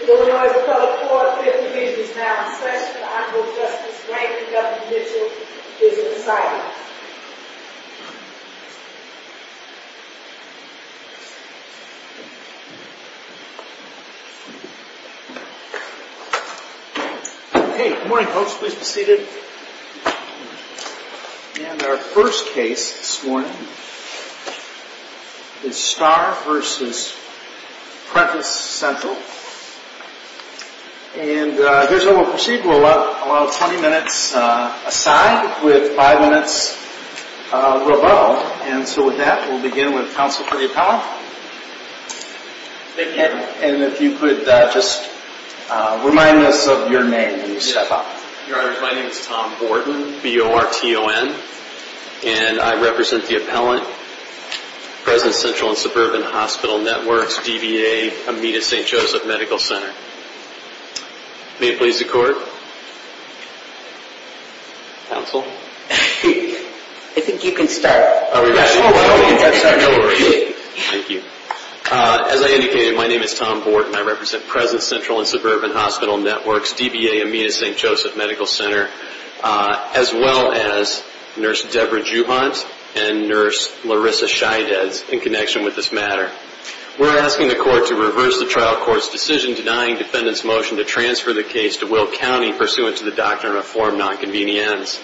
The Illinois Republic Court of Appeals Division is now in session and Honorable Justice Franklin W. Mitchell is in silence. Hey, good morning folks, please be seated. And our first case this morning is Starr v. Presence Central. And here's how we'll proceed. We'll allow 20 minutes aside with 5 minutes above. And so with that, we'll begin with Counsel for the Appellant. Thank you. And if you could just remind us of your name when you step up. Your Honor, my name is Tom Borton, B-O-R-T-O-N. And I represent the Appellant, Presence Central & Suburban Hospital Networks, DBA, Amita St. Joseph Medical Center. May it please the Court. Counsel. I think you can start. No worries. Thank you. As I indicated, my name is Tom Borton. I represent Presence Central & Suburban Hospital Networks, DBA, Amita St. Joseph Medical Center. As well as Nurse Deborah Juhant and Nurse Larissa Scheidez in connection with this matter. We're asking the Court to reverse the trial court's decision denying defendants' motion to transfer the case to Will County pursuant to the Doctrine of Form Nonconvenience.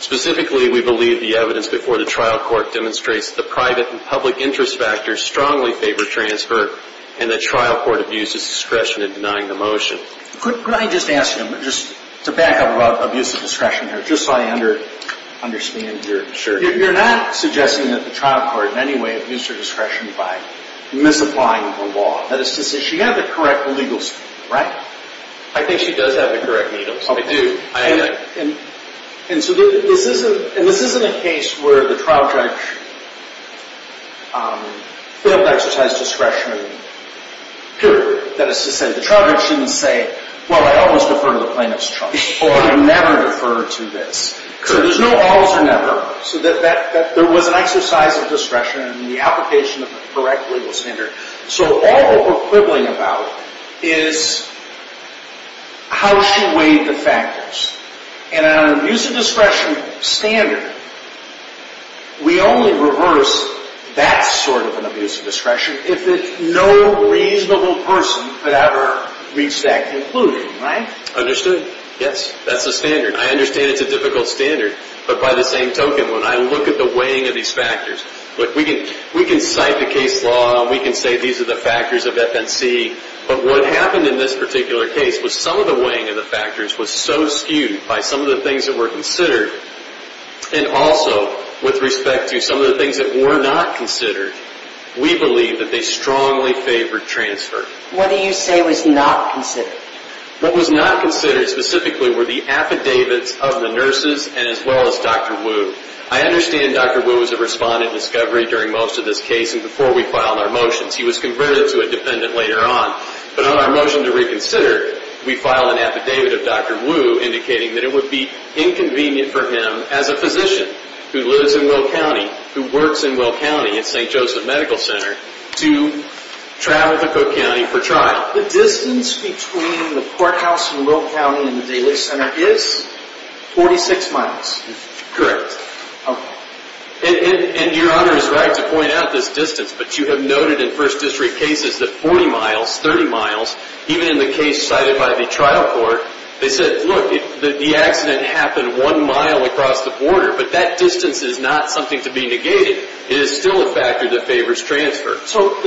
Specifically, we believe the evidence before the trial court demonstrates the private and public interest factors strongly favor transfer and that trial court abuses discretion in denying the motion. Could I just ask you, just to back up about abuse of discretion here, just so I understand. Sure. You're not suggesting that the trial court in any way abused her discretion by misapplying the law. That is to say, she had the correct legal, right? I think she does have the correct legal. I do. And so this isn't a case where the trial judge failed to exercise discretion, purely. That is to say, the trial judge shouldn't say, well, I always defer to the plaintiff's trust, or I never defer to this. So there's no always or never. So there was an exercise of discretion in the application of the correct legal standard. So all we're quibbling about is how she weighed the factors. And on an abuse of discretion standard, we only reverse that sort of an abuse of discretion if no reasonable person could ever reach that conclusion, right? Understood. Yes, that's the standard. I understand it's a difficult standard, but by the same token, when I look at the weighing of these factors, we can cite the case law and we can say these are the factors of FNC, but what happened in this particular case was some of the weighing of the factors was so skewed by some of the things that were considered, and also with respect to some of the things that were not considered, we believe that they strongly favored transfer. What do you say was not considered? What was not considered specifically were the affidavits of the nurses and as well as Dr. Wu. I understand Dr. Wu was a respondent in discovery during most of this case and before we filed our motions. He was converted to a dependent later on, but on our motion to reconsider, we filed an affidavit of Dr. Wu indicating that it would be inconvenient for him as a physician who lives in Will County, who works in Will County at St. Joseph Medical Center, to travel to Cook County for trial. The distance between the courthouse in Will County and the Daly Center is 46 miles. Correct. Okay. And Your Honor is right to point out this distance, but you have noted in First District cases that 40 miles, 30 miles, even in the case cited by the trial court, they said, look, the accident happened one mile across the border, but that distance is not something to be negated. It is still a factor that favors transfer. So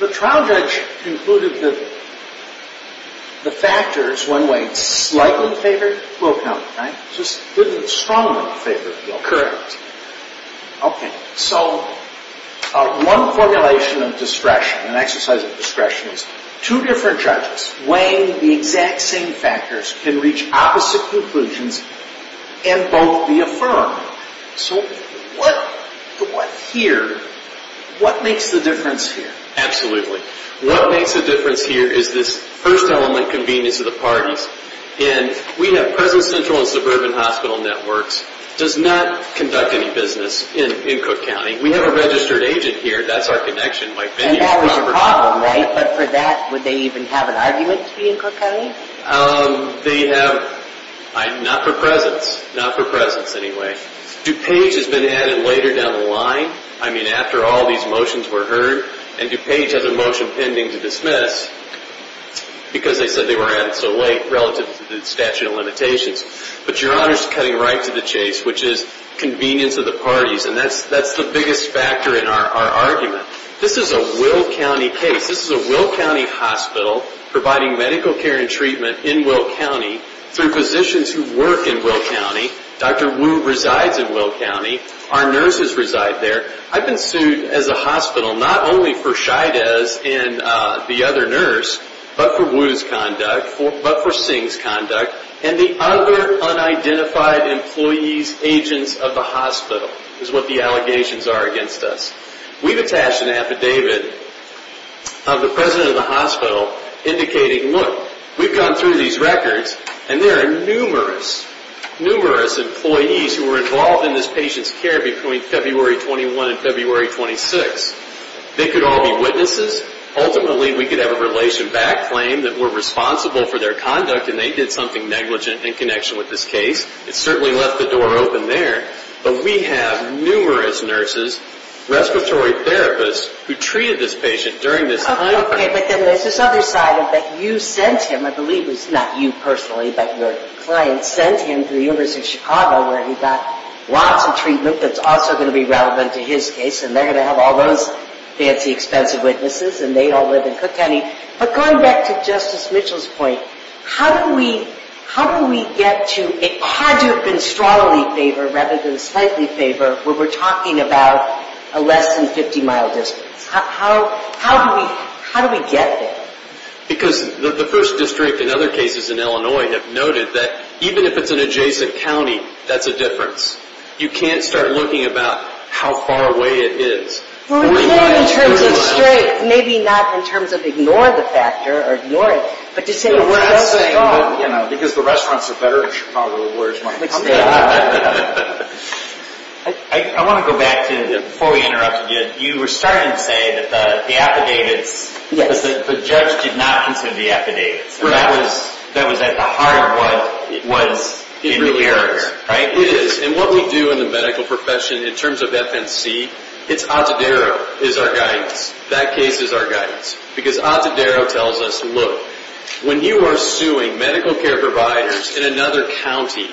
the trial judge concluded that the factors, one way, slightly favored Will County, right? Just didn't strongly favor Will County. Correct. Okay. So one formulation of discretion, an exercise of discretion, is two different judges weighing the exact same factors can reach opposite conclusions and both be affirmed. So what here, what makes the difference here? Absolutely. What makes the difference here is this first element convenience of the parties. And we have present central and suburban hospital networks does not conduct any business in Cook County. We have a registered agent here. That's our connection. And that was a problem, right? But for that, would they even have an argument to be in Cook County? They have, not for presence, not for presence anyway. DuPage has been added later down the line. I mean, after all these motions were heard. And DuPage has a motion pending to dismiss because they said they were added so late relative to the statute of limitations. But your Honor's cutting right to the chase, which is convenience of the parties. And that's the biggest factor in our argument. This is a Will County case. This is a Will County hospital providing medical care and treatment in Will County through physicians who work in Will County. Dr. Wu resides in Will County. Our nurses reside there. I've been sued as a hospital not only for shyness in the other nurse, but for Wu's conduct, but for Singh's conduct, and the other unidentified employees, agents of the hospital is what the allegations are against us. We've attached an affidavit of the president of the hospital indicating, look, we've gone through these records, and there are numerous, numerous employees who were involved in this patient's care between February 21 and February 26. They could all be witnesses. Ultimately, we could have a relation back claim that we're responsible for their conduct, and they did something negligent in connection with this case. It certainly left the door open there. But we have numerous nurses, respiratory therapists who treated this patient during this time. Okay, but then there's this other side of it. You sent him, I believe it was not you personally, but your client sent him to the University of Chicago where he got lots of treatment that's also going to be relevant to his case, and they're going to have all those fancy, expensive witnesses, and they all live in Cook County. But going back to Justice Mitchell's point, how do we get to a hard to have been strongly favored rather than slightly favored where we're talking about a less than 50-mile distance? How do we get there? Because the first district and other cases in Illinois have noted that even if it's an adjacent county, that's a difference. You can't start looking about how far away it is. Well, we're doing it in terms of strength, maybe not in terms of ignoring the factor or ignoring it, but to say where does it go? Because the restaurants are better in Chicago, where's my company? I want to go back to before we interrupted you. You were starting to say that the affidavits, the judge did not consider the affidavits. That was at the heart of what was in the error, right? It is. And what we do in the medical profession in terms of FNC, it's Atadero is our guidance. That case is our guidance because Atadero tells us, look, when you are suing medical care providers in another county,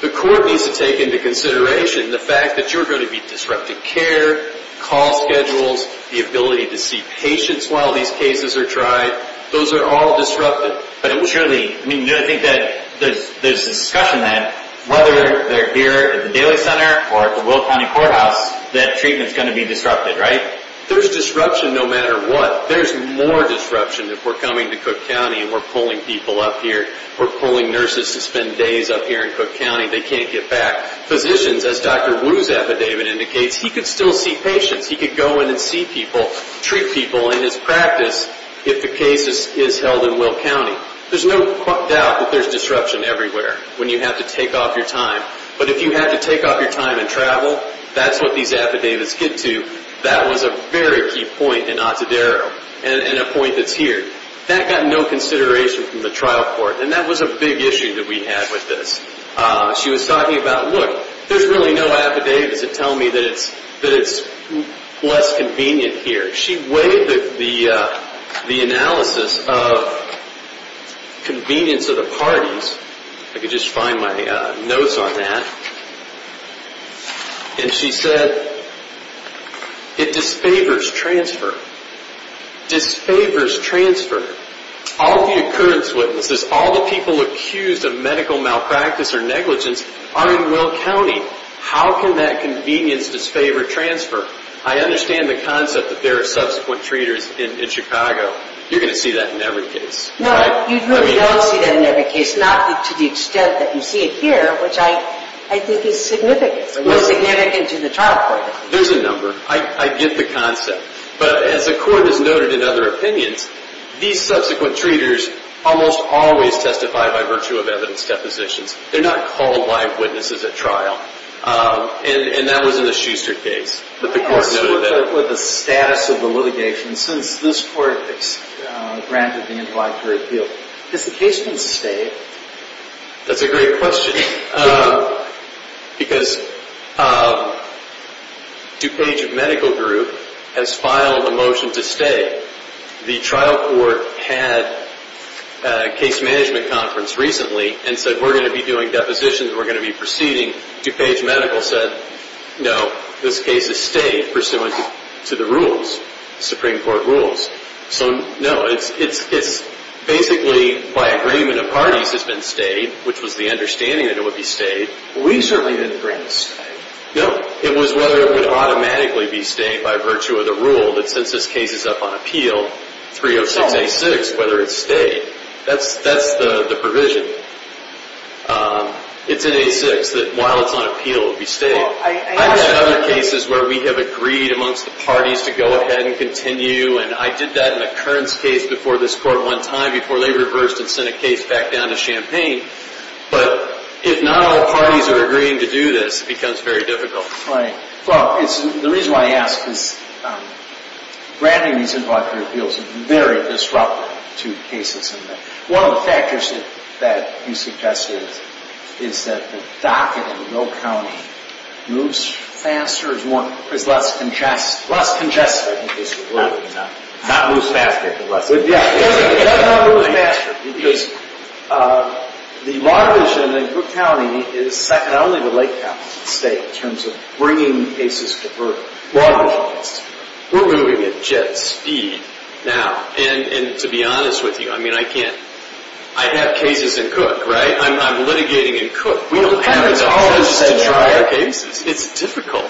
the court needs to take into consideration the fact that you're going to be disrupting care, call schedules, the ability to see patients while these cases are tried. Those are all disrupted. But it will surely, I mean, I think that there's discussion that whether they're here at the Daly Center or at the Will County Courthouse, that treatment's going to be disrupted, right? There's disruption no matter what. There's more disruption if we're coming to Cook County and we're pulling people up here. We're pulling nurses to spend days up here in Cook County. They can't get back. Physicians, as Dr. Wu's affidavit indicates, he could still see patients. He could go in and see people, treat people in his practice if the case is held in Will County. There's no doubt that there's disruption everywhere when you have to take off your time. But if you have to take off your time and travel, that's what these affidavits get to. That was a very key point in Otterdaro and a point that's here. That got no consideration from the trial court, and that was a big issue that we had with this. She was talking about, look, there's really no affidavit to tell me that it's less convenient here. She weighed the analysis of convenience of the parties. I could just find my notes on that. And she said it disfavors transfer. Disfavors transfer. All the occurrence witnesses, all the people accused of medical malpractice or negligence are in Will County. How can that convenience disfavor transfer? I understand the concept that there are subsequent treaters in Chicago. You're going to see that in every case, right? What's significant to the trial court? There's a number. I get the concept. But as the court has noted in other opinions, these subsequent treaters almost always testify by virtue of evidence depositions. They're not called live witnesses at trial. And that was in the Schuster case. But the court noted that. What is the status of the litigation since this court granted the invite for appeal? Has the case been stayed? That's a great question. Because DuPage Medical Group has filed a motion to stay. The trial court had a case management conference recently and said we're going to be doing depositions. We're going to be proceeding. DuPage Medical said no, this case is stayed pursuant to the rules, Supreme Court rules. So, no, it's basically by agreement of parties has been stayed, which was the understanding that it would be stayed. We certainly didn't agree to stay. No. It was whether it would automatically be stayed by virtue of the rule that since this case is up on appeal, 306-A-6, whether it's stayed. That's the provision. It's in A-6 that while it's on appeal, it will be stayed. I've had other cases where we have agreed amongst the parties to go ahead and continue, and I did that in a Kearns case before this court one time before they reversed and sent a case back down to Champaign. But if not all parties are agreeing to do this, it becomes very difficult. Right. Well, the reason why I ask is granting these invite for appeals is very disruptive to cases. One of the factors that you suggested is that the docket in Will County moves faster or is less congested? Less congested, I think is the word. Not moves faster, but less congested. Yeah, it does not move faster because the mortgage in the county is second only to Lake County State in terms of bringing cases to birth. Mortgage. We're moving at jet speed now. And to be honest with you, I mean, I have cases in Cook, right? I'm litigating in Cook. We don't have enough judges to try our cases. It's difficult.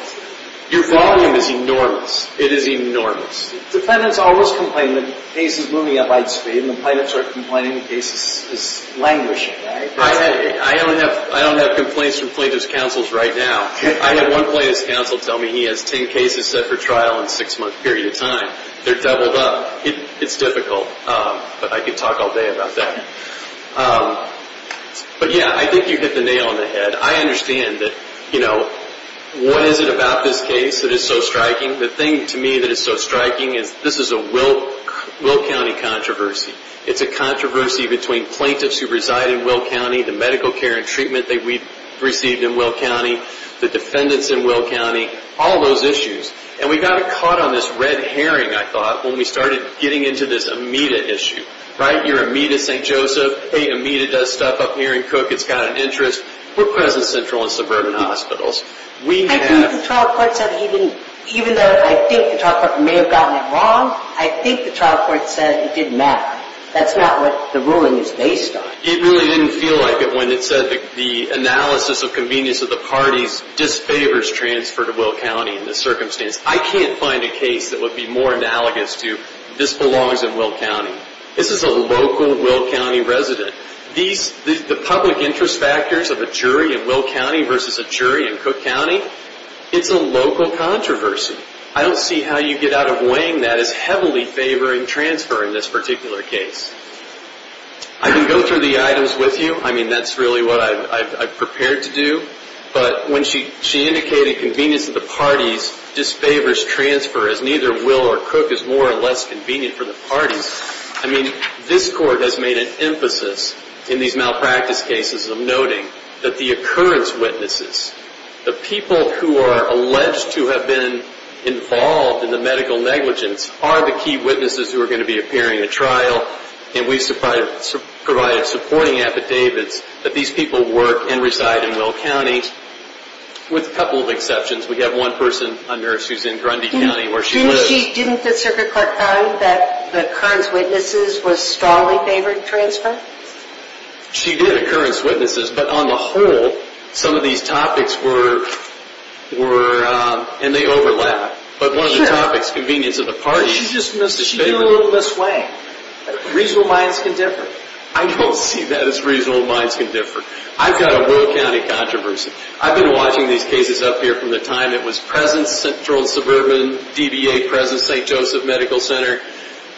Your volume is enormous. It is enormous. Defendants always complain that the case is moving at light speed, and the plaintiffs are complaining the case is languishing. I don't have complaints from plaintiff's counsels right now. I had one plaintiff's counsel tell me he has 10 cases set for trial in a six-month period of time. They're doubled up. It's difficult, but I could talk all day about that. But, yeah, I think you hit the nail on the head. I understand that, you know, what is it about this case that is so striking? The thing to me that is so striking is this is a Will County controversy. It's a controversy between plaintiffs who reside in Will County, the medical care and treatment that we've received in Will County, the defendants in Will County, all those issues. And we got caught on this red herring, I thought, when we started getting into this Amita issue. Right? You're Amita St. Joseph. Hey, Amita does stuff up here in Cook. It's got an interest. We're Crescent Central and Suburban Hospitals. I think the trial court said even though I think the trial court may have gotten it wrong, I think the trial court said it didn't matter. That's not what the ruling is based on. It really didn't feel like it when it said the analysis of convenience of the parties disfavors transfer to Will County in this circumstance. I can't find a case that would be more analogous to this belongs in Will County. This is a local Will County resident. The public interest factors of a jury in Will County versus a jury in Cook County, it's a local controversy. I don't see how you get out of weighing that as heavily favoring transfer in this particular case. I can go through the items with you. I mean, that's really what I've prepared to do. But when she indicated convenience of the parties disfavors transfer as neither Will or Cook is more or less convenient for the parties, I mean, this court has made an emphasis in these malpractice cases of noting that the occurrence witnesses, the people who are alleged to have been involved in the medical negligence are the key witnesses who are going to be appearing at trial. And we've provided supporting affidavits that these people work and reside in Will County with a couple of exceptions. We have one person, a nurse who's in Grundy County where she lives. Didn't the circuit court find that the occurrence witnesses was strongly favored transfer? She did, occurrence witnesses. But on the whole, some of these topics were, and they overlap. But one of the topics, convenience of the parties, is the favoring. She did it a little this way. Reasonable minds can differ. I don't see that as reasonable minds can differ. I've got a Will County controversy. I've been watching these cases up here from the time it was present Central and Suburban, DBA, present St. Joseph Medical Center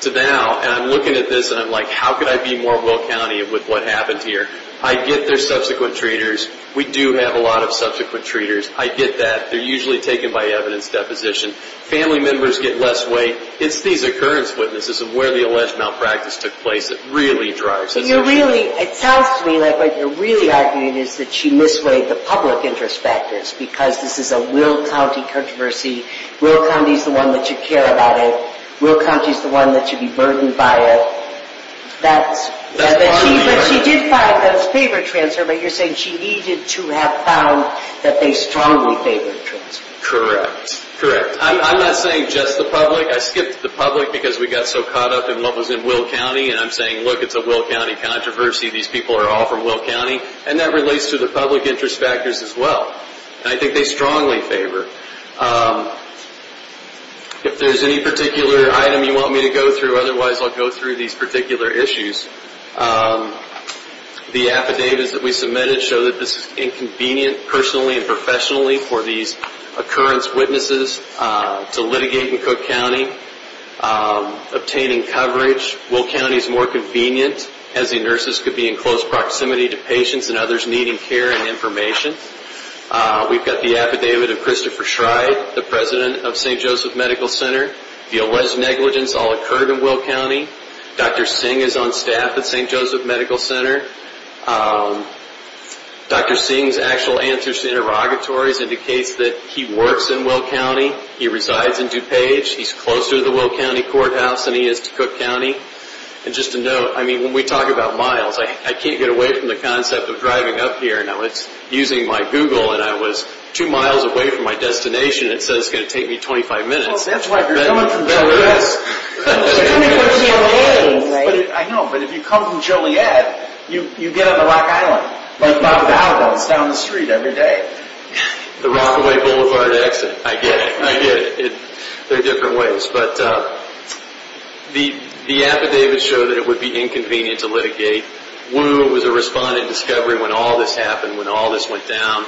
to now. And I'm looking at this and I'm like, how could I be more Will County with what happened here? I get there's subsequent treaters. We do have a lot of subsequent treaters. I get that. They're usually taken by evidence deposition. Family members get less weight. It's these occurrence witnesses of where the alleged malpractice took place that really drives it. You're really, it sounds to me like what you're really arguing is that you misweigh the public interest factors because this is a Will County controversy. Will County's the one that should care about it. Will County's the one that should be burdened by it. She did find those favor transfer, but you're saying she needed to have found that they strongly favor transfer. Correct. Correct. I'm not saying just the public. I skipped the public because we got so caught up in what was in Will County. And I'm saying, look, it's a Will County controversy. These people are all from Will County. And that relates to the public interest factors as well. And I think they strongly favor. If there's any particular item you want me to go through, otherwise I'll go through these particular issues. The affidavits that we submitted show that this is inconvenient personally and professionally for these occurrence witnesses to litigate in Cook County, obtaining coverage. Will County's more convenient as the nurses could be in close proximity to patients and others needing care and information. We've got the affidavit of Christopher Schride, the president of St. Joseph Medical Center. The alleged negligence all occurred in Will County. Dr. Singh is on staff at St. Joseph Medical Center. Dr. Singh's actual answers to interrogatories indicates that he works in Will County. He resides in DuPage. He's closer to the Will County courthouse than he is to Cook County. And just to note, I mean, when we talk about miles, I can't get away from the concept of driving up here. Now, it's using my Google, and I was two miles away from my destination. It says it's going to take me 25 minutes. That's why if you're coming from Joliet, you get on the Rock Island. It's down the street every day. The Rockaway Boulevard exit. I get it. I get it. They're different ways. But the affidavits show that it would be inconvenient to litigate. Wu was a respondent discovery when all this happened, when all this went down.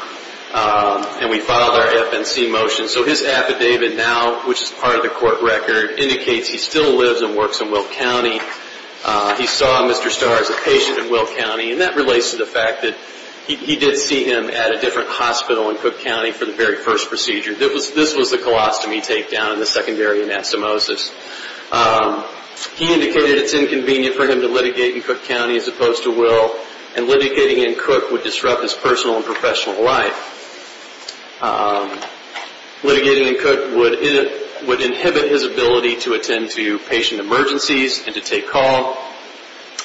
And we filed our FNC motion. So his affidavit now, which is part of the court record, indicates he still lives and works in Will County. He saw Mr. Starr as a patient in Will County. And that relates to the fact that he did see him at a different hospital in Cook County for the very first procedure. This was the colostomy takedown and the secondary anastomosis. He indicated it's inconvenient for him to litigate in Cook County as opposed to Will. And litigating in Cook would disrupt his personal and professional life. Litigating in Cook would inhibit his ability to attend to patient emergencies and to take call.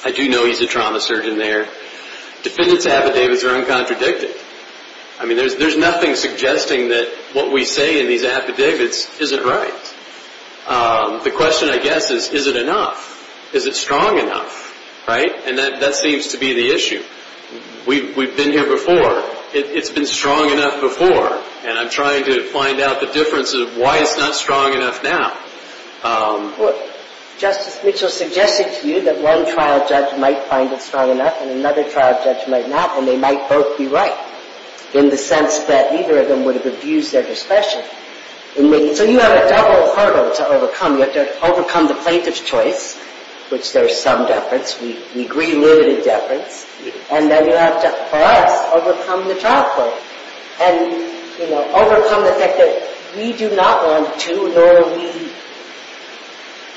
I do know he's a trauma surgeon there. Defendant's affidavits are uncontradicted. I mean, there's nothing suggesting that what we say in these affidavits isn't right. The question, I guess, is, is it enough? Is it strong enough? And that seems to be the issue. We've been here before. It's been strong enough before. And I'm trying to find out the difference of why it's not strong enough now. Justice Mitchell suggested to you that one trial judge might find it strong enough and another trial judge might not. And they might both be right in the sense that neither of them would have abused their discretion. So you have a double hurdle to overcome. You have to overcome the plaintiff's choice, which there's some deference. We agree limited deference. And then you have to, for us, overcome the trial court. And, you know, overcome the fact that we do not want to, nor are we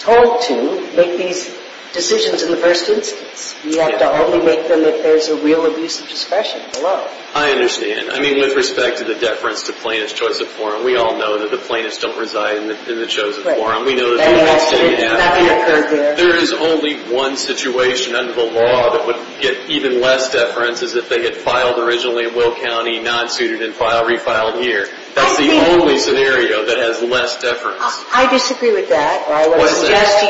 told to, make these decisions in the first instance. We have to only make them if there's a real abuse of discretion below. I understand. I mean, with respect to the deference to plaintiff's choice of forum, we all know that the plaintiffs don't reside in the chosen forum. Right. We know that that's what's going to happen. That may have occurred there. There is only one situation under the law that would get even less deference is if they had filed originally in Will County, non-suited, and refiled here. That's the only scenario that has less deference. I disagree with that. What's that?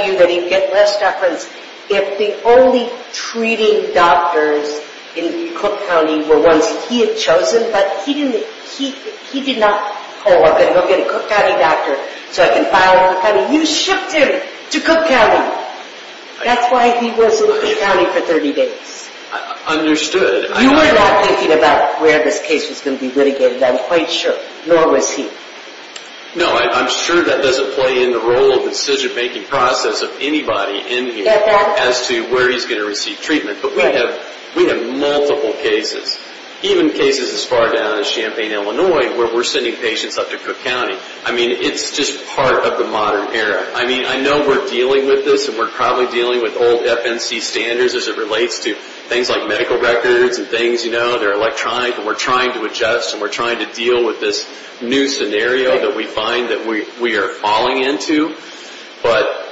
in Cook County were ones that he had chosen, but he did not pull up and go get a Cook County doctor so I can file in Cook County. You shipped him to Cook County. That's why he was in Cook County for 30 days. Understood. You were not thinking about where this case was going to be litigated, I'm quite sure, nor was he. No, I'm sure that doesn't play in the role of the decision-making process of anybody in here as to where he's going to receive treatment. But we have multiple cases, even cases as far down as Champaign, Illinois, where we're sending patients up to Cook County. I mean, it's just part of the modern era. I mean, I know we're dealing with this, and we're probably dealing with old FNC standards as it relates to things like medical records and things. You know, they're electronic, and we're trying to adjust, and we're trying to deal with this new scenario that we find that we are falling into. But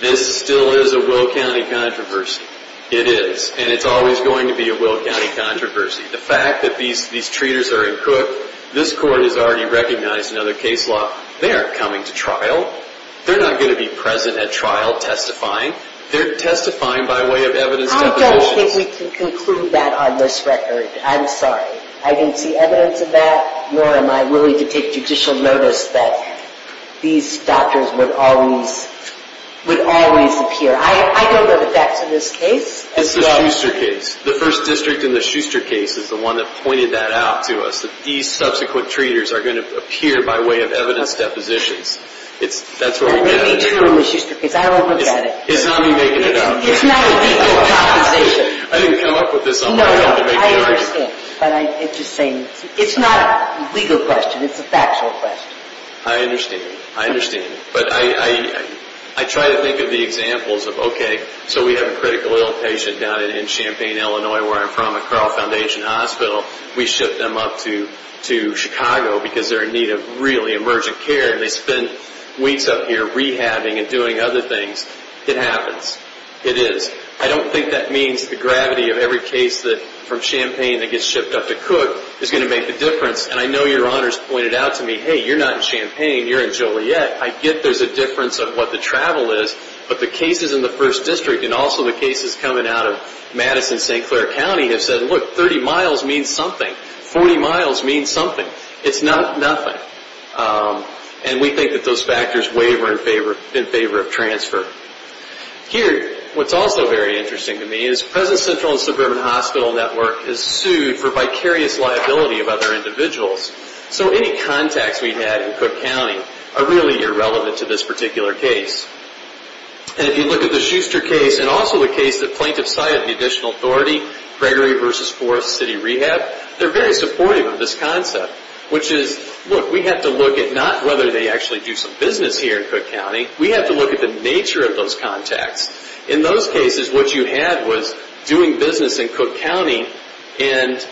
this still is a Will County controversy. It is, and it's always going to be a Will County controversy. The fact that these treaters are in Cook, this Court has already recognized another case law. They aren't coming to trial. They're not going to be present at trial testifying. They're testifying by way of evidence definitions. I don't think we can conclude that on this record. I'm sorry. I didn't see evidence of that, nor am I willing to take judicial notice that these doctors would always appear. I don't know the facts of this case. It's the Schuster case. The First District in the Schuster case is the one that pointed that out to us, that these subsequent treaters are going to appear by way of evidence depositions. That's where we get it. Maybe true in the Schuster case. I don't look at it. It's not me making it up. It's not a legal conversation. I didn't come up with this on my own to make it up. I understand, but I'm just saying it's not a legal question. It's a factual question. I understand. I understand. But I try to think of the examples of, okay, so we have a critical ill patient down in Champaign, Illinois, where I'm from, at Carl Foundation Hospital. We ship them up to Chicago because they're in need of really emergent care, and they spend weeks up here rehabbing and doing other things. It happens. It is. I don't think that means the gravity of every case from Champaign that gets shipped up to Cook is going to make a difference. And I know Your Honors pointed out to me, hey, you're not in Champaign. You're in Joliet. I get there's a difference of what the travel is, but the cases in the First District and also the cases coming out of Madison and St. Clair County have said, look, 30 miles means something. 40 miles means something. It's not nothing. And we think that those factors waver in favor of transfer. Here, what's also very interesting to me is present central and suburban hospital network is sued for vicarious liability of other individuals. So any contacts we've had in Cook County are really irrelevant to this particular case. And if you look at the Schuster case and also the case that plaintiffs cited, the additional authority, Gregory v. Forest City Rehab, they're very supportive of this concept, which is, look, we have to look at not whether they actually do some business here in Cook County. We have to look at the nature of those contacts. In those cases, what you had was doing business in Cook County, and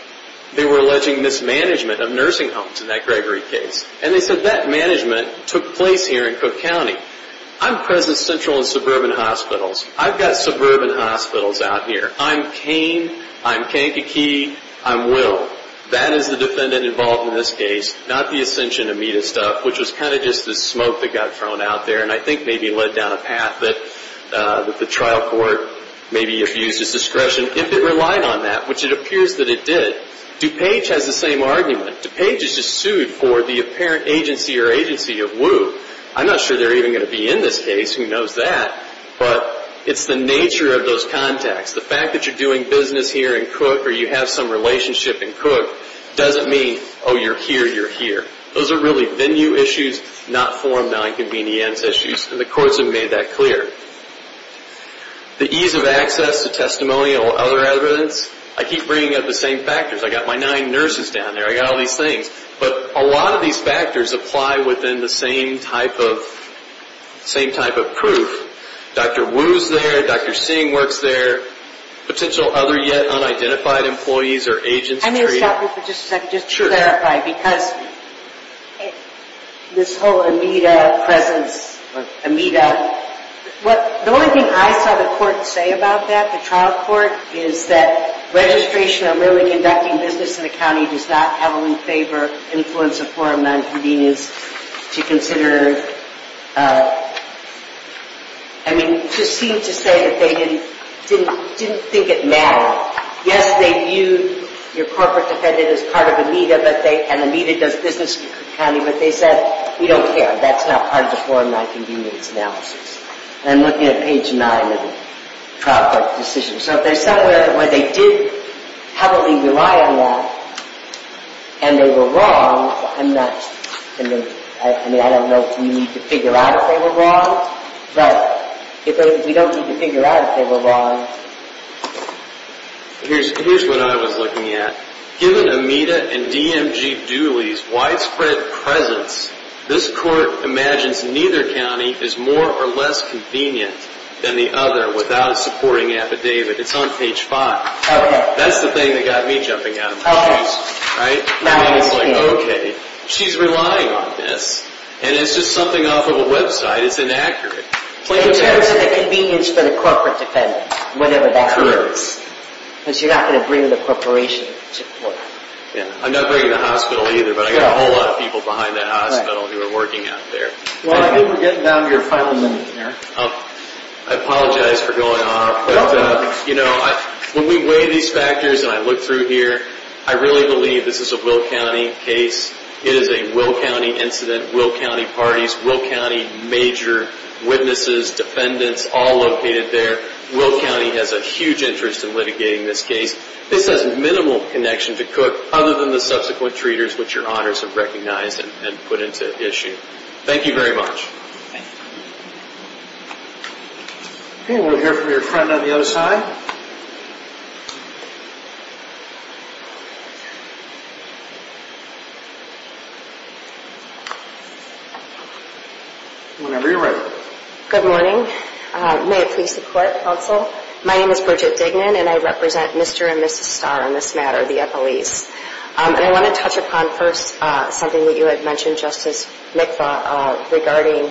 they were alleging mismanagement of nursing homes in that Gregory case. And they said that management took place here in Cook County. I'm present central in suburban hospitals. I've got suburban hospitals out here. I'm Kane. I'm Kankakee. I'm Will. That is the defendant involved in this case, not the Ascension Amita stuff, which was kind of just the smoke that got thrown out there and I think maybe led down a path that the trial court maybe abused its discretion. If it relied on that, which it appears that it did, DuPage has the same argument. DuPage is just sued for the apparent agency or agency of Wu. I'm not sure they're even going to be in this case. Who knows that? But it's the nature of those contacts. The fact that you're doing business here in Cook or you have some relationship in Cook doesn't mean, oh, you're here, you're here. Those are really venue issues, not forum nonconvenience issues, and the courts have made that clear. The ease of access to testimonial or other evidence, I keep bringing up the same factors. I've got my nine nurses down there. I've got all these things. But a lot of these factors apply within the same type of proof. Dr. Wu's there. Dr. Singh works there. Potential other yet unidentified employees or agents treated. Just to clarify, because this whole Amita presence, Amita, the only thing I saw the court say about that, the trial court, is that registration of merely conducting business in a county does not have a favor influence of forum nonconvenience to consider. I mean, it just seemed to say that they didn't think it mattered. Now, yes, they viewed your corporate defendant as part of Amita, and Amita does business in Cook County, but they said, we don't care. That's not part of the forum nonconvenience analysis. And I'm looking at page nine of the trial court decision. So if there's somewhere where they did heavily rely on that and they were wrong, I'm not going to – I mean, I don't know if we need to figure out if they were wrong, but if we don't need to figure out if they were wrong. Here's what I was looking at. Given Amita and DMG Dooley's widespread presence, this court imagines neither county is more or less convenient than the other without a supporting affidavit. It's on page five. Okay. That's the thing that got me jumping out of my seat. Okay. Right? Now I understand. Okay. She's relying on this, and it's just something off of a website. It's inaccurate. In terms of the convenience for the corporate defendant, whatever that is, because you're not going to bring the corporation to court. I'm not bringing the hospital either, but I've got a whole lot of people behind that hospital who are working out there. Well, I think we're getting down to your final minute here. I apologize for going off, but, you know, when we weigh these factors and I look through here, I really believe this is a Will County case. It is a Will County incident. Will County parties. Will County major witnesses, defendants, all located there. Will County has a huge interest in litigating this case. This has minimal connection to Cook other than the subsequent treaters, which your honors have recognized and put into issue. Thank you very much. Thank you. Okay. We'll hear from your friend on the other side. Whenever you're ready. Good morning. May it please the court, counsel. My name is Bridget Dignan, and I represent Mr. and Mrs. Starr in this matter, the Eppolese. And I want to touch upon first something that you had mentioned, Justice Mikva, regarding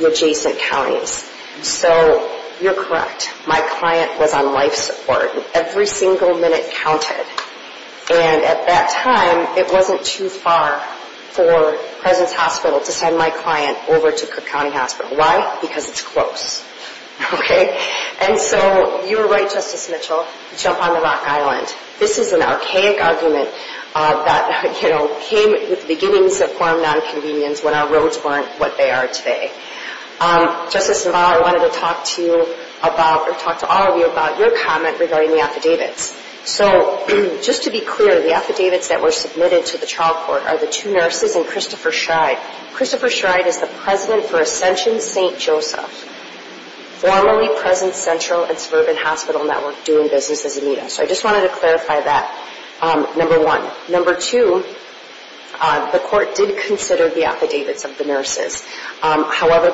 the adjacent counties. So, you're correct. My client was on life support. Every single minute counted. And at that time, it wasn't too far for President's Hospital to send my client over to Cook County Hospital. Why? Because it's close. Okay? And so, you were right, Justice Mitchell, to jump on the rock island. This is an archaic argument that, you know, came with the beginnings of foreign nonconvenience when our roads weren't what they are today. Justice Navarro, I wanted to talk to you about or talk to all of you about your comment regarding the affidavits. So, just to be clear, the affidavits that were submitted to the trial court are the two nurses and Christopher Schride. Christopher Schride is the president for Ascension St. Joseph, formerly President Central and Suburban Hospital Network doing business as a META. So, I just wanted to clarify that, number one. Number two, the court did consider the affidavits of the nurses. However,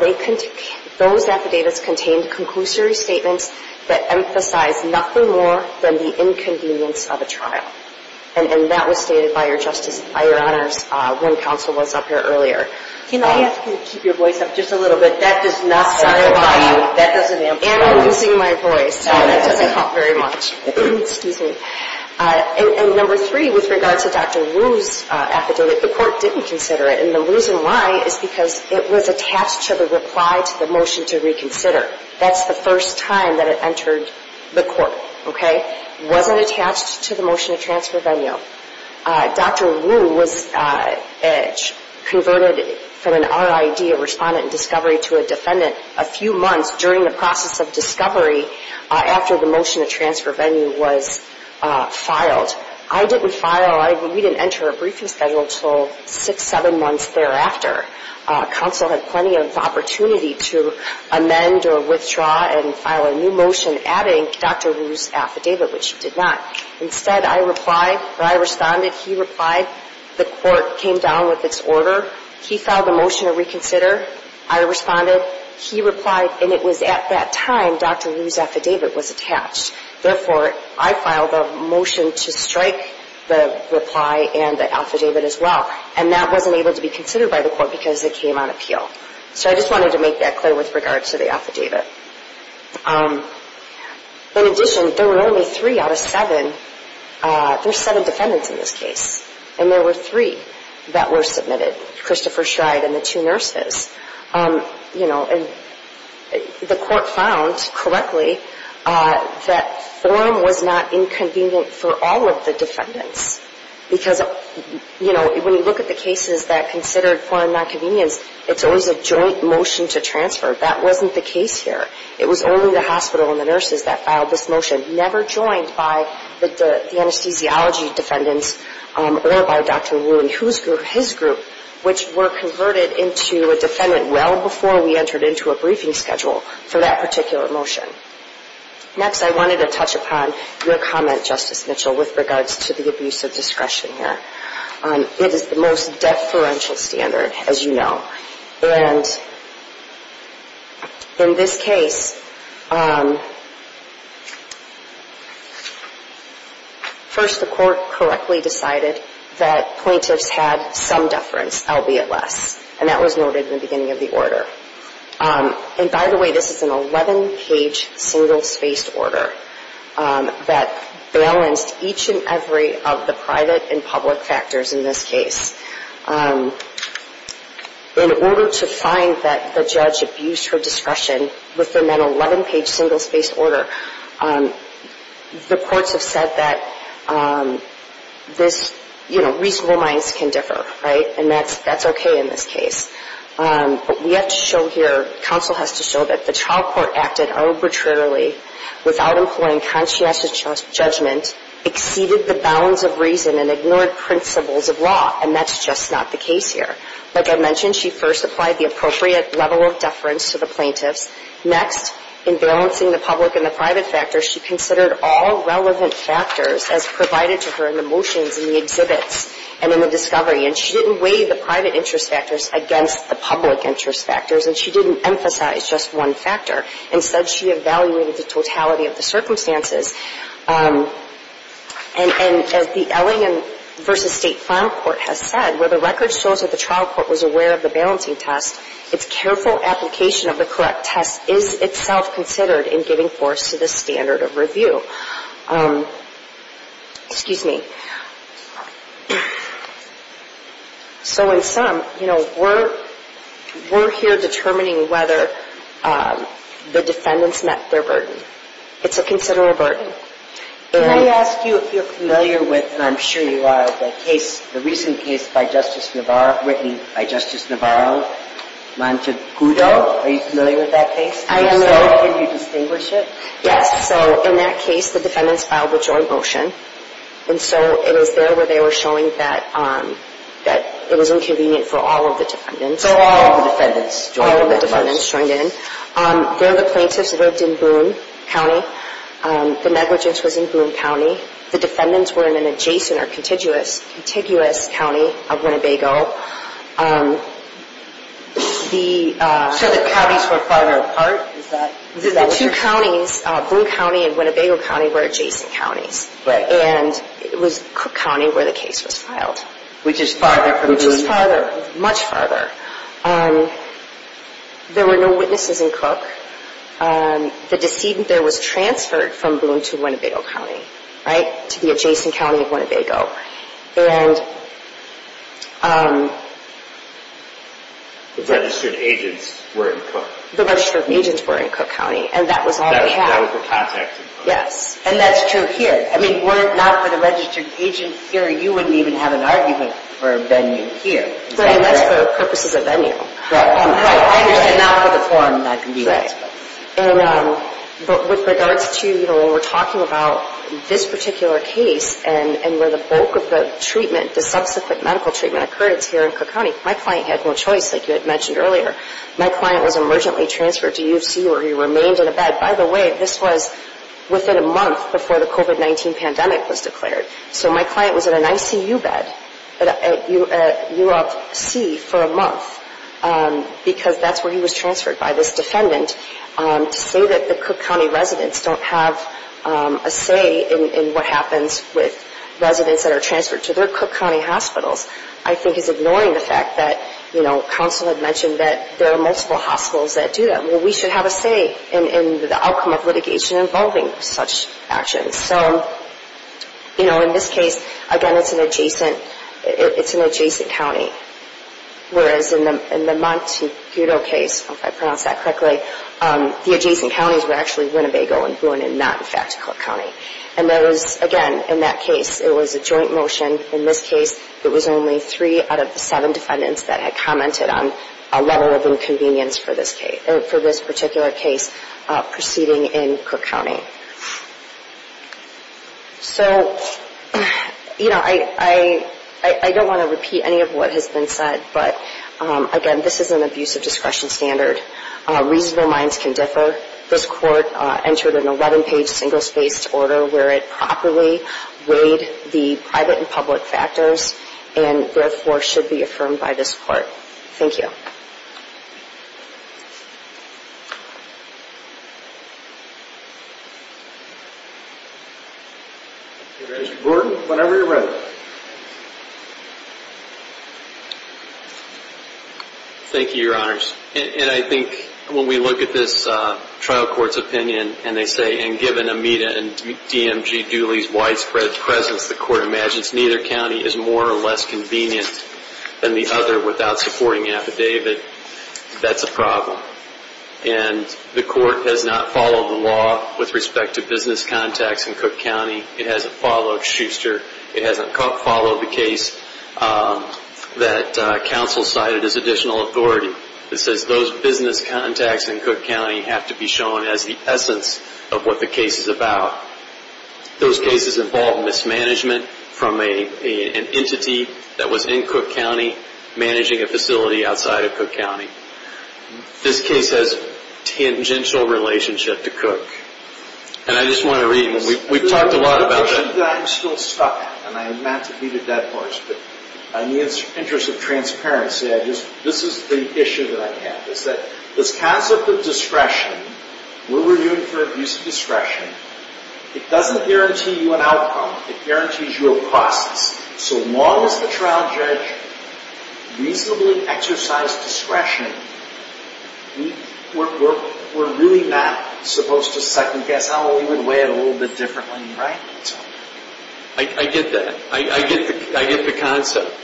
those affidavits contained conclusory statements that emphasized nothing more than the inconvenience of a trial. And that was stated by your Honor's room counsel was up here earlier. Can I ask you to keep your voice up just a little bit? That does not amplify you. And I'm losing my voice. Sorry, that doesn't help very much. Excuse me. And number three, with regards to Dr. Wu's affidavit, the court didn't consider it. And the reason why is because it was attached to the reply to the motion to reconsider. That's the first time that it entered the court, okay? It wasn't attached to the motion to transfer venue. Dr. Wu was converted from an RID, a respondent in discovery, to a defendant a few months during the process of discovery after the motion to transfer venue was filed. I didn't file, we didn't enter a briefing schedule until six, seven months thereafter. Counsel had plenty of opportunity to amend or withdraw and file a new motion adding Dr. Wu's affidavit, which it did not. Instead, I replied, or I responded, he replied. The court came down with its order. He filed a motion to reconsider. I responded. He replied. And it was at that time Dr. Wu's affidavit was attached. Therefore, I filed a motion to strike the reply and the affidavit as well. And that wasn't able to be considered by the court because it came on appeal. So I just wanted to make that clear with regards to the affidavit. In addition, there were only three out of seven, there's seven defendants in this case. And there were three that were submitted, Christopher Shride and the two nurses. You know, and the court found correctly that forum was not inconvenient for all of the defendants. Because, you know, when you look at the cases that considered forum nonconvenience, it's always a joint motion to transfer. That wasn't the case here. It was only the hospital and the nurses that filed this motion, never joined by the anesthesiology defendants or by Dr. Wu and his group, which were converted into a defendant well before we entered into a briefing schedule for that particular motion. Next, I wanted to touch upon your comment, Justice Mitchell, with regards to the abuse of discretion here. It is the most deferential standard, as you know. And in this case, first the court correctly decided that plaintiffs had some deference, albeit less. And that was noted in the beginning of the order. And by the way, this is an 11-page, single-spaced order that balanced each and every of the private and public factors in this case. In order to find that the judge abused her discretion within that 11-page, single-spaced order, the courts have said that this, you know, reasonable minds can differ, right? And that's okay in this case. But we have to show here, counsel has to show that the trial court acted arbitrarily without employing conscientious judgment, exceeded the bounds of reason, and ignored principles of law. And that's just not the case here. Like I mentioned, she first applied the appropriate level of deference to the plaintiffs. Next, in balancing the public and the private factors, she considered all relevant factors as provided to her in the motions, in the exhibits, and in the discovery. And she didn't weigh the private interest factors against the public interest factors. And she didn't emphasize just one factor. Instead, she evaluated the totality of the circumstances. And as the L.A. v. State Final Court has said, where the record shows that the trial court was aware of the balancing test, its careful application of the correct test is itself considered in giving force to the standard of review. Excuse me. So in sum, you know, we're here determining whether the defendants met their burden. It's a considerable burden. Can I ask you if you're familiar with, and I'm sure you are, the case, the recent case by Justice Navarro, written by Justice Navarro, Montecudo? Are you familiar with that case? I am. Can you distinguish it? Yes. So in that case, the defendants filed the joint motion. And so it was there where they were showing that it was inconvenient for all of the defendants. So all of the defendants joined in. All of the defendants joined in. They're the plaintiffs that lived in Boone County. The negligence was in Boone County. The defendants were in an adjacent or contiguous county of Winnebago. So the counties were farther apart? The two counties, Boone County and Winnebago County, were adjacent counties. And it was Cook County where the case was filed. Which is farther from Boone? Much farther. There were no witnesses in Cook. The decedent there was transferred from Boone to Winnebago County, right? To the adjacent county of Winnebago. The registered agents were in Cook? The registered agents were in Cook County. And that was all they had. That was their contact information. Yes. And that's true here. I mean, were it not for the registered agents here, you wouldn't even have an argument for a venue here. Right. That's for purposes of venue. Right. I understand. Not for the forum. Right. And with regards to, you know, when we're talking about this particular case, and where the bulk of the treatment, the subsequent medical treatment, occurred, it's here in Cook County. My client had no choice, like you had mentioned earlier. My client was emergently transferred to U of C where he remained in a bed. By the way, this was within a month before the COVID-19 pandemic was declared. So my client was in an ICU bed at U of C for a month. Because that's where he was transferred by this defendant. To say that the Cook County residents don't have a say in what happens with residents that are transferred to their Cook County hospitals, I think is ignoring the fact that, you know, counsel had mentioned that there are multiple hospitals that do that. Well, we should have a say in the outcome of litigation involving such actions. So, you know, in this case, again, it's an adjacent county. Whereas in the Montecito case, if I pronounced that correctly, the adjacent counties were actually Winnebago and Boone and not, in fact, Cook County. And that was, again, in that case, it was a joint motion. In this case, it was only three out of the seven defendants that had commented on a level of inconvenience for this particular case proceeding in Cook County. So, you know, I don't want to repeat any of what has been said. But, again, this is an abuse of discretion standard. Reasonable minds can differ. This court entered an 11-page single-spaced order where it properly weighed the private and public factors and, therefore, should be affirmed by this court. Thank you. Mr. Gordon, whenever you're ready. Thank you, Your Honors. And I think when we look at this trial court's opinion and they say, and given Amita and DMG Dooley's widespread presence, the court imagines neither county is more or less convenient than the other without supporting affidavit, that's a problem. And the court has not followed the law with respect to business contacts in Cook County. It hasn't followed Schuster. It hasn't followed the case that counsel cited as additional authority. It says those business contacts in Cook County have to be shown as the essence of what the case is about. Those cases involve mismanagement from an entity that was in Cook County managing a facility outside of Cook County. This case has tangential relationship to Cook. And I just want to read. We've talked a lot about that. I'm still stuck, and I meant to be the dead horse, but in the interest of transparency, this is the issue that I have. It's that this concept of discretion, what we're doing for abuse of discretion, it doesn't guarantee you an outcome. It guarantees you a process. So long as the trial judge reasonably exercised discretion, we're really not supposed to second-guess how we would weigh it a little bit differently, right? I get that. I get the concept.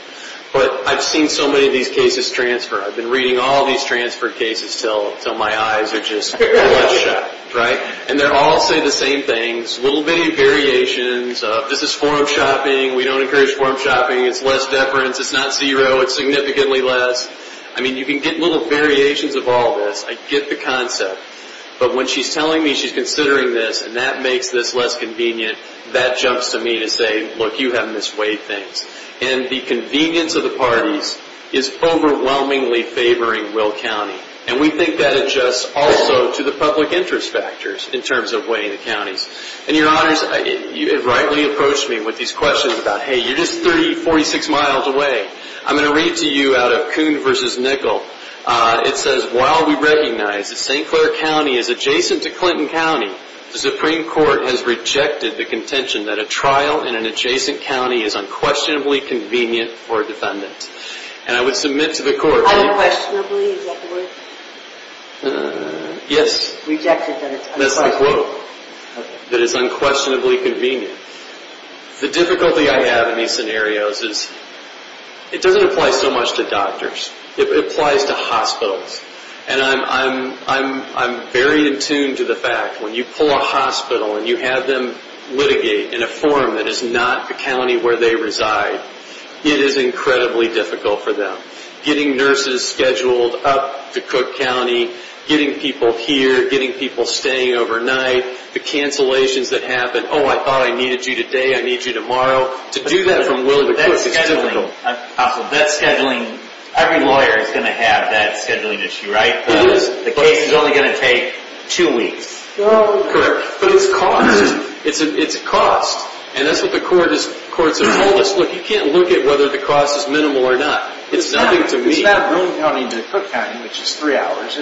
But I've seen so many of these cases transfer. I've been reading all these transfer cases until my eyes are just bloodshot, right? And they all say the same things. Little variations. This is forum shopping. We don't encourage forum shopping. It's less deference. It's not zero. It's significantly less. I mean, you can get little variations of all this. I get the concept. But when she's telling me she's considering this and that makes this less convenient, that jumps to me to say, look, you have misweighed things. And the convenience of the parties is overwhelmingly favoring Will County. And we think that adjusts also to the public interest factors in terms of weighing the counties. And, Your Honors, it rightly approached me with these questions about, hey, you're just 46 miles away. I'm going to read to you out of Kuhn v. Nickel. It says, while we recognize that St. Clair County is adjacent to Clinton County, the Supreme Court has rejected the contention that a trial in an adjacent county is unquestionably convenient for defendants. And I would submit to the Court that you – Unquestionably? Is that the word? Yes. Rejected that it's unquestionably? That's the quote. Okay. That it's unquestionably convenient. The difficulty I have in these scenarios is it doesn't apply so much to doctors. It applies to hospitals. And I'm very in tune to the fact when you pull a hospital and you have them litigate in a form that is not a county where they reside, it is incredibly difficult for them. Getting nurses scheduled up to Cook County, getting people here, getting people staying overnight, the cancellations that happen. Oh, I thought I needed you today. I need you tomorrow. To do that from Willowbrook Cook is difficult. That scheduling – every lawyer is going to have that scheduling issue, right? It is. The case is only going to take two weeks. Correct. But it's cost. It's cost. And that's what the Court has told us. Look, you can't look at whether the cost is minimal or not. It's nothing to me. It's not from Willowbrook County to Cook County, which is three hours.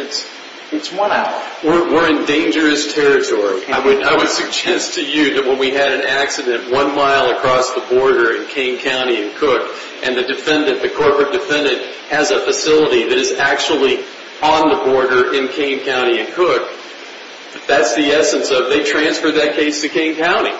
It's one hour. We're in dangerous territory. I would suggest to you that when we had an accident one mile across the border in Kane County and Cook and the defendant, the corporate defendant, has a facility that is actually on the border in Kane County and Cook, that's the essence of they transferred that case to Kane County.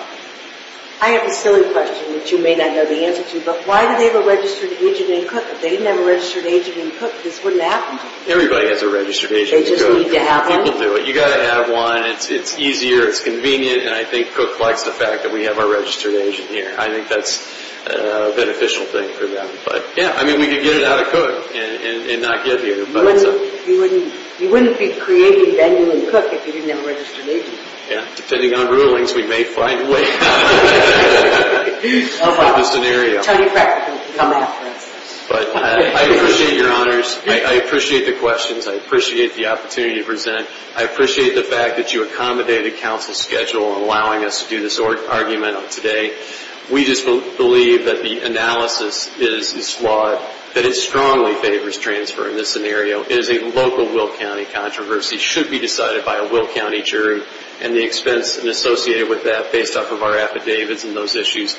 I have a silly question that you may not know the answer to. But why do they have a registered agent in Cook? If they didn't have a registered agent in Cook, this wouldn't happen. Everybody has a registered agent in Cook. They just need to have one. People do it. You've got to have one. It's easier. It's convenient. And I think Cook likes the fact that we have our registered agent here. I think that's a beneficial thing for them. But, yeah, I mean, we could get it out of Cook and not give you. You wouldn't be creating Bennu and Cook if you didn't have a registered agent. Yeah. Depending on rulings, we may find a way out of the scenario. Tell you practically. Come after us. But I appreciate your honors. I appreciate the questions. I appreciate the opportunity to present. I appreciate the fact that you accommodated counsel's schedule in allowing us to do this argument today. We just believe that the analysis is flawed, that it strongly favors transfer in this scenario. It is a local Will County controversy. It should be decided by a Will County jury. And the expense associated with that, based off of our affidavits and those issues,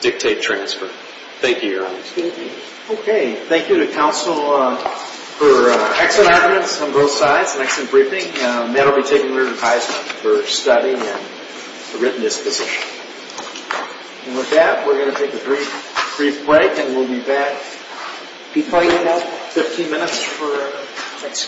dictate transfer. Thank you, your honors. Thank you. Okay. Thank you to counsel for excellent arguments on both sides and excellent briefing. Matt will be taking re-requisement for study and written disposition. And with that, we're going to take a brief break, and we'll be back. Be quiet for about 15 minutes.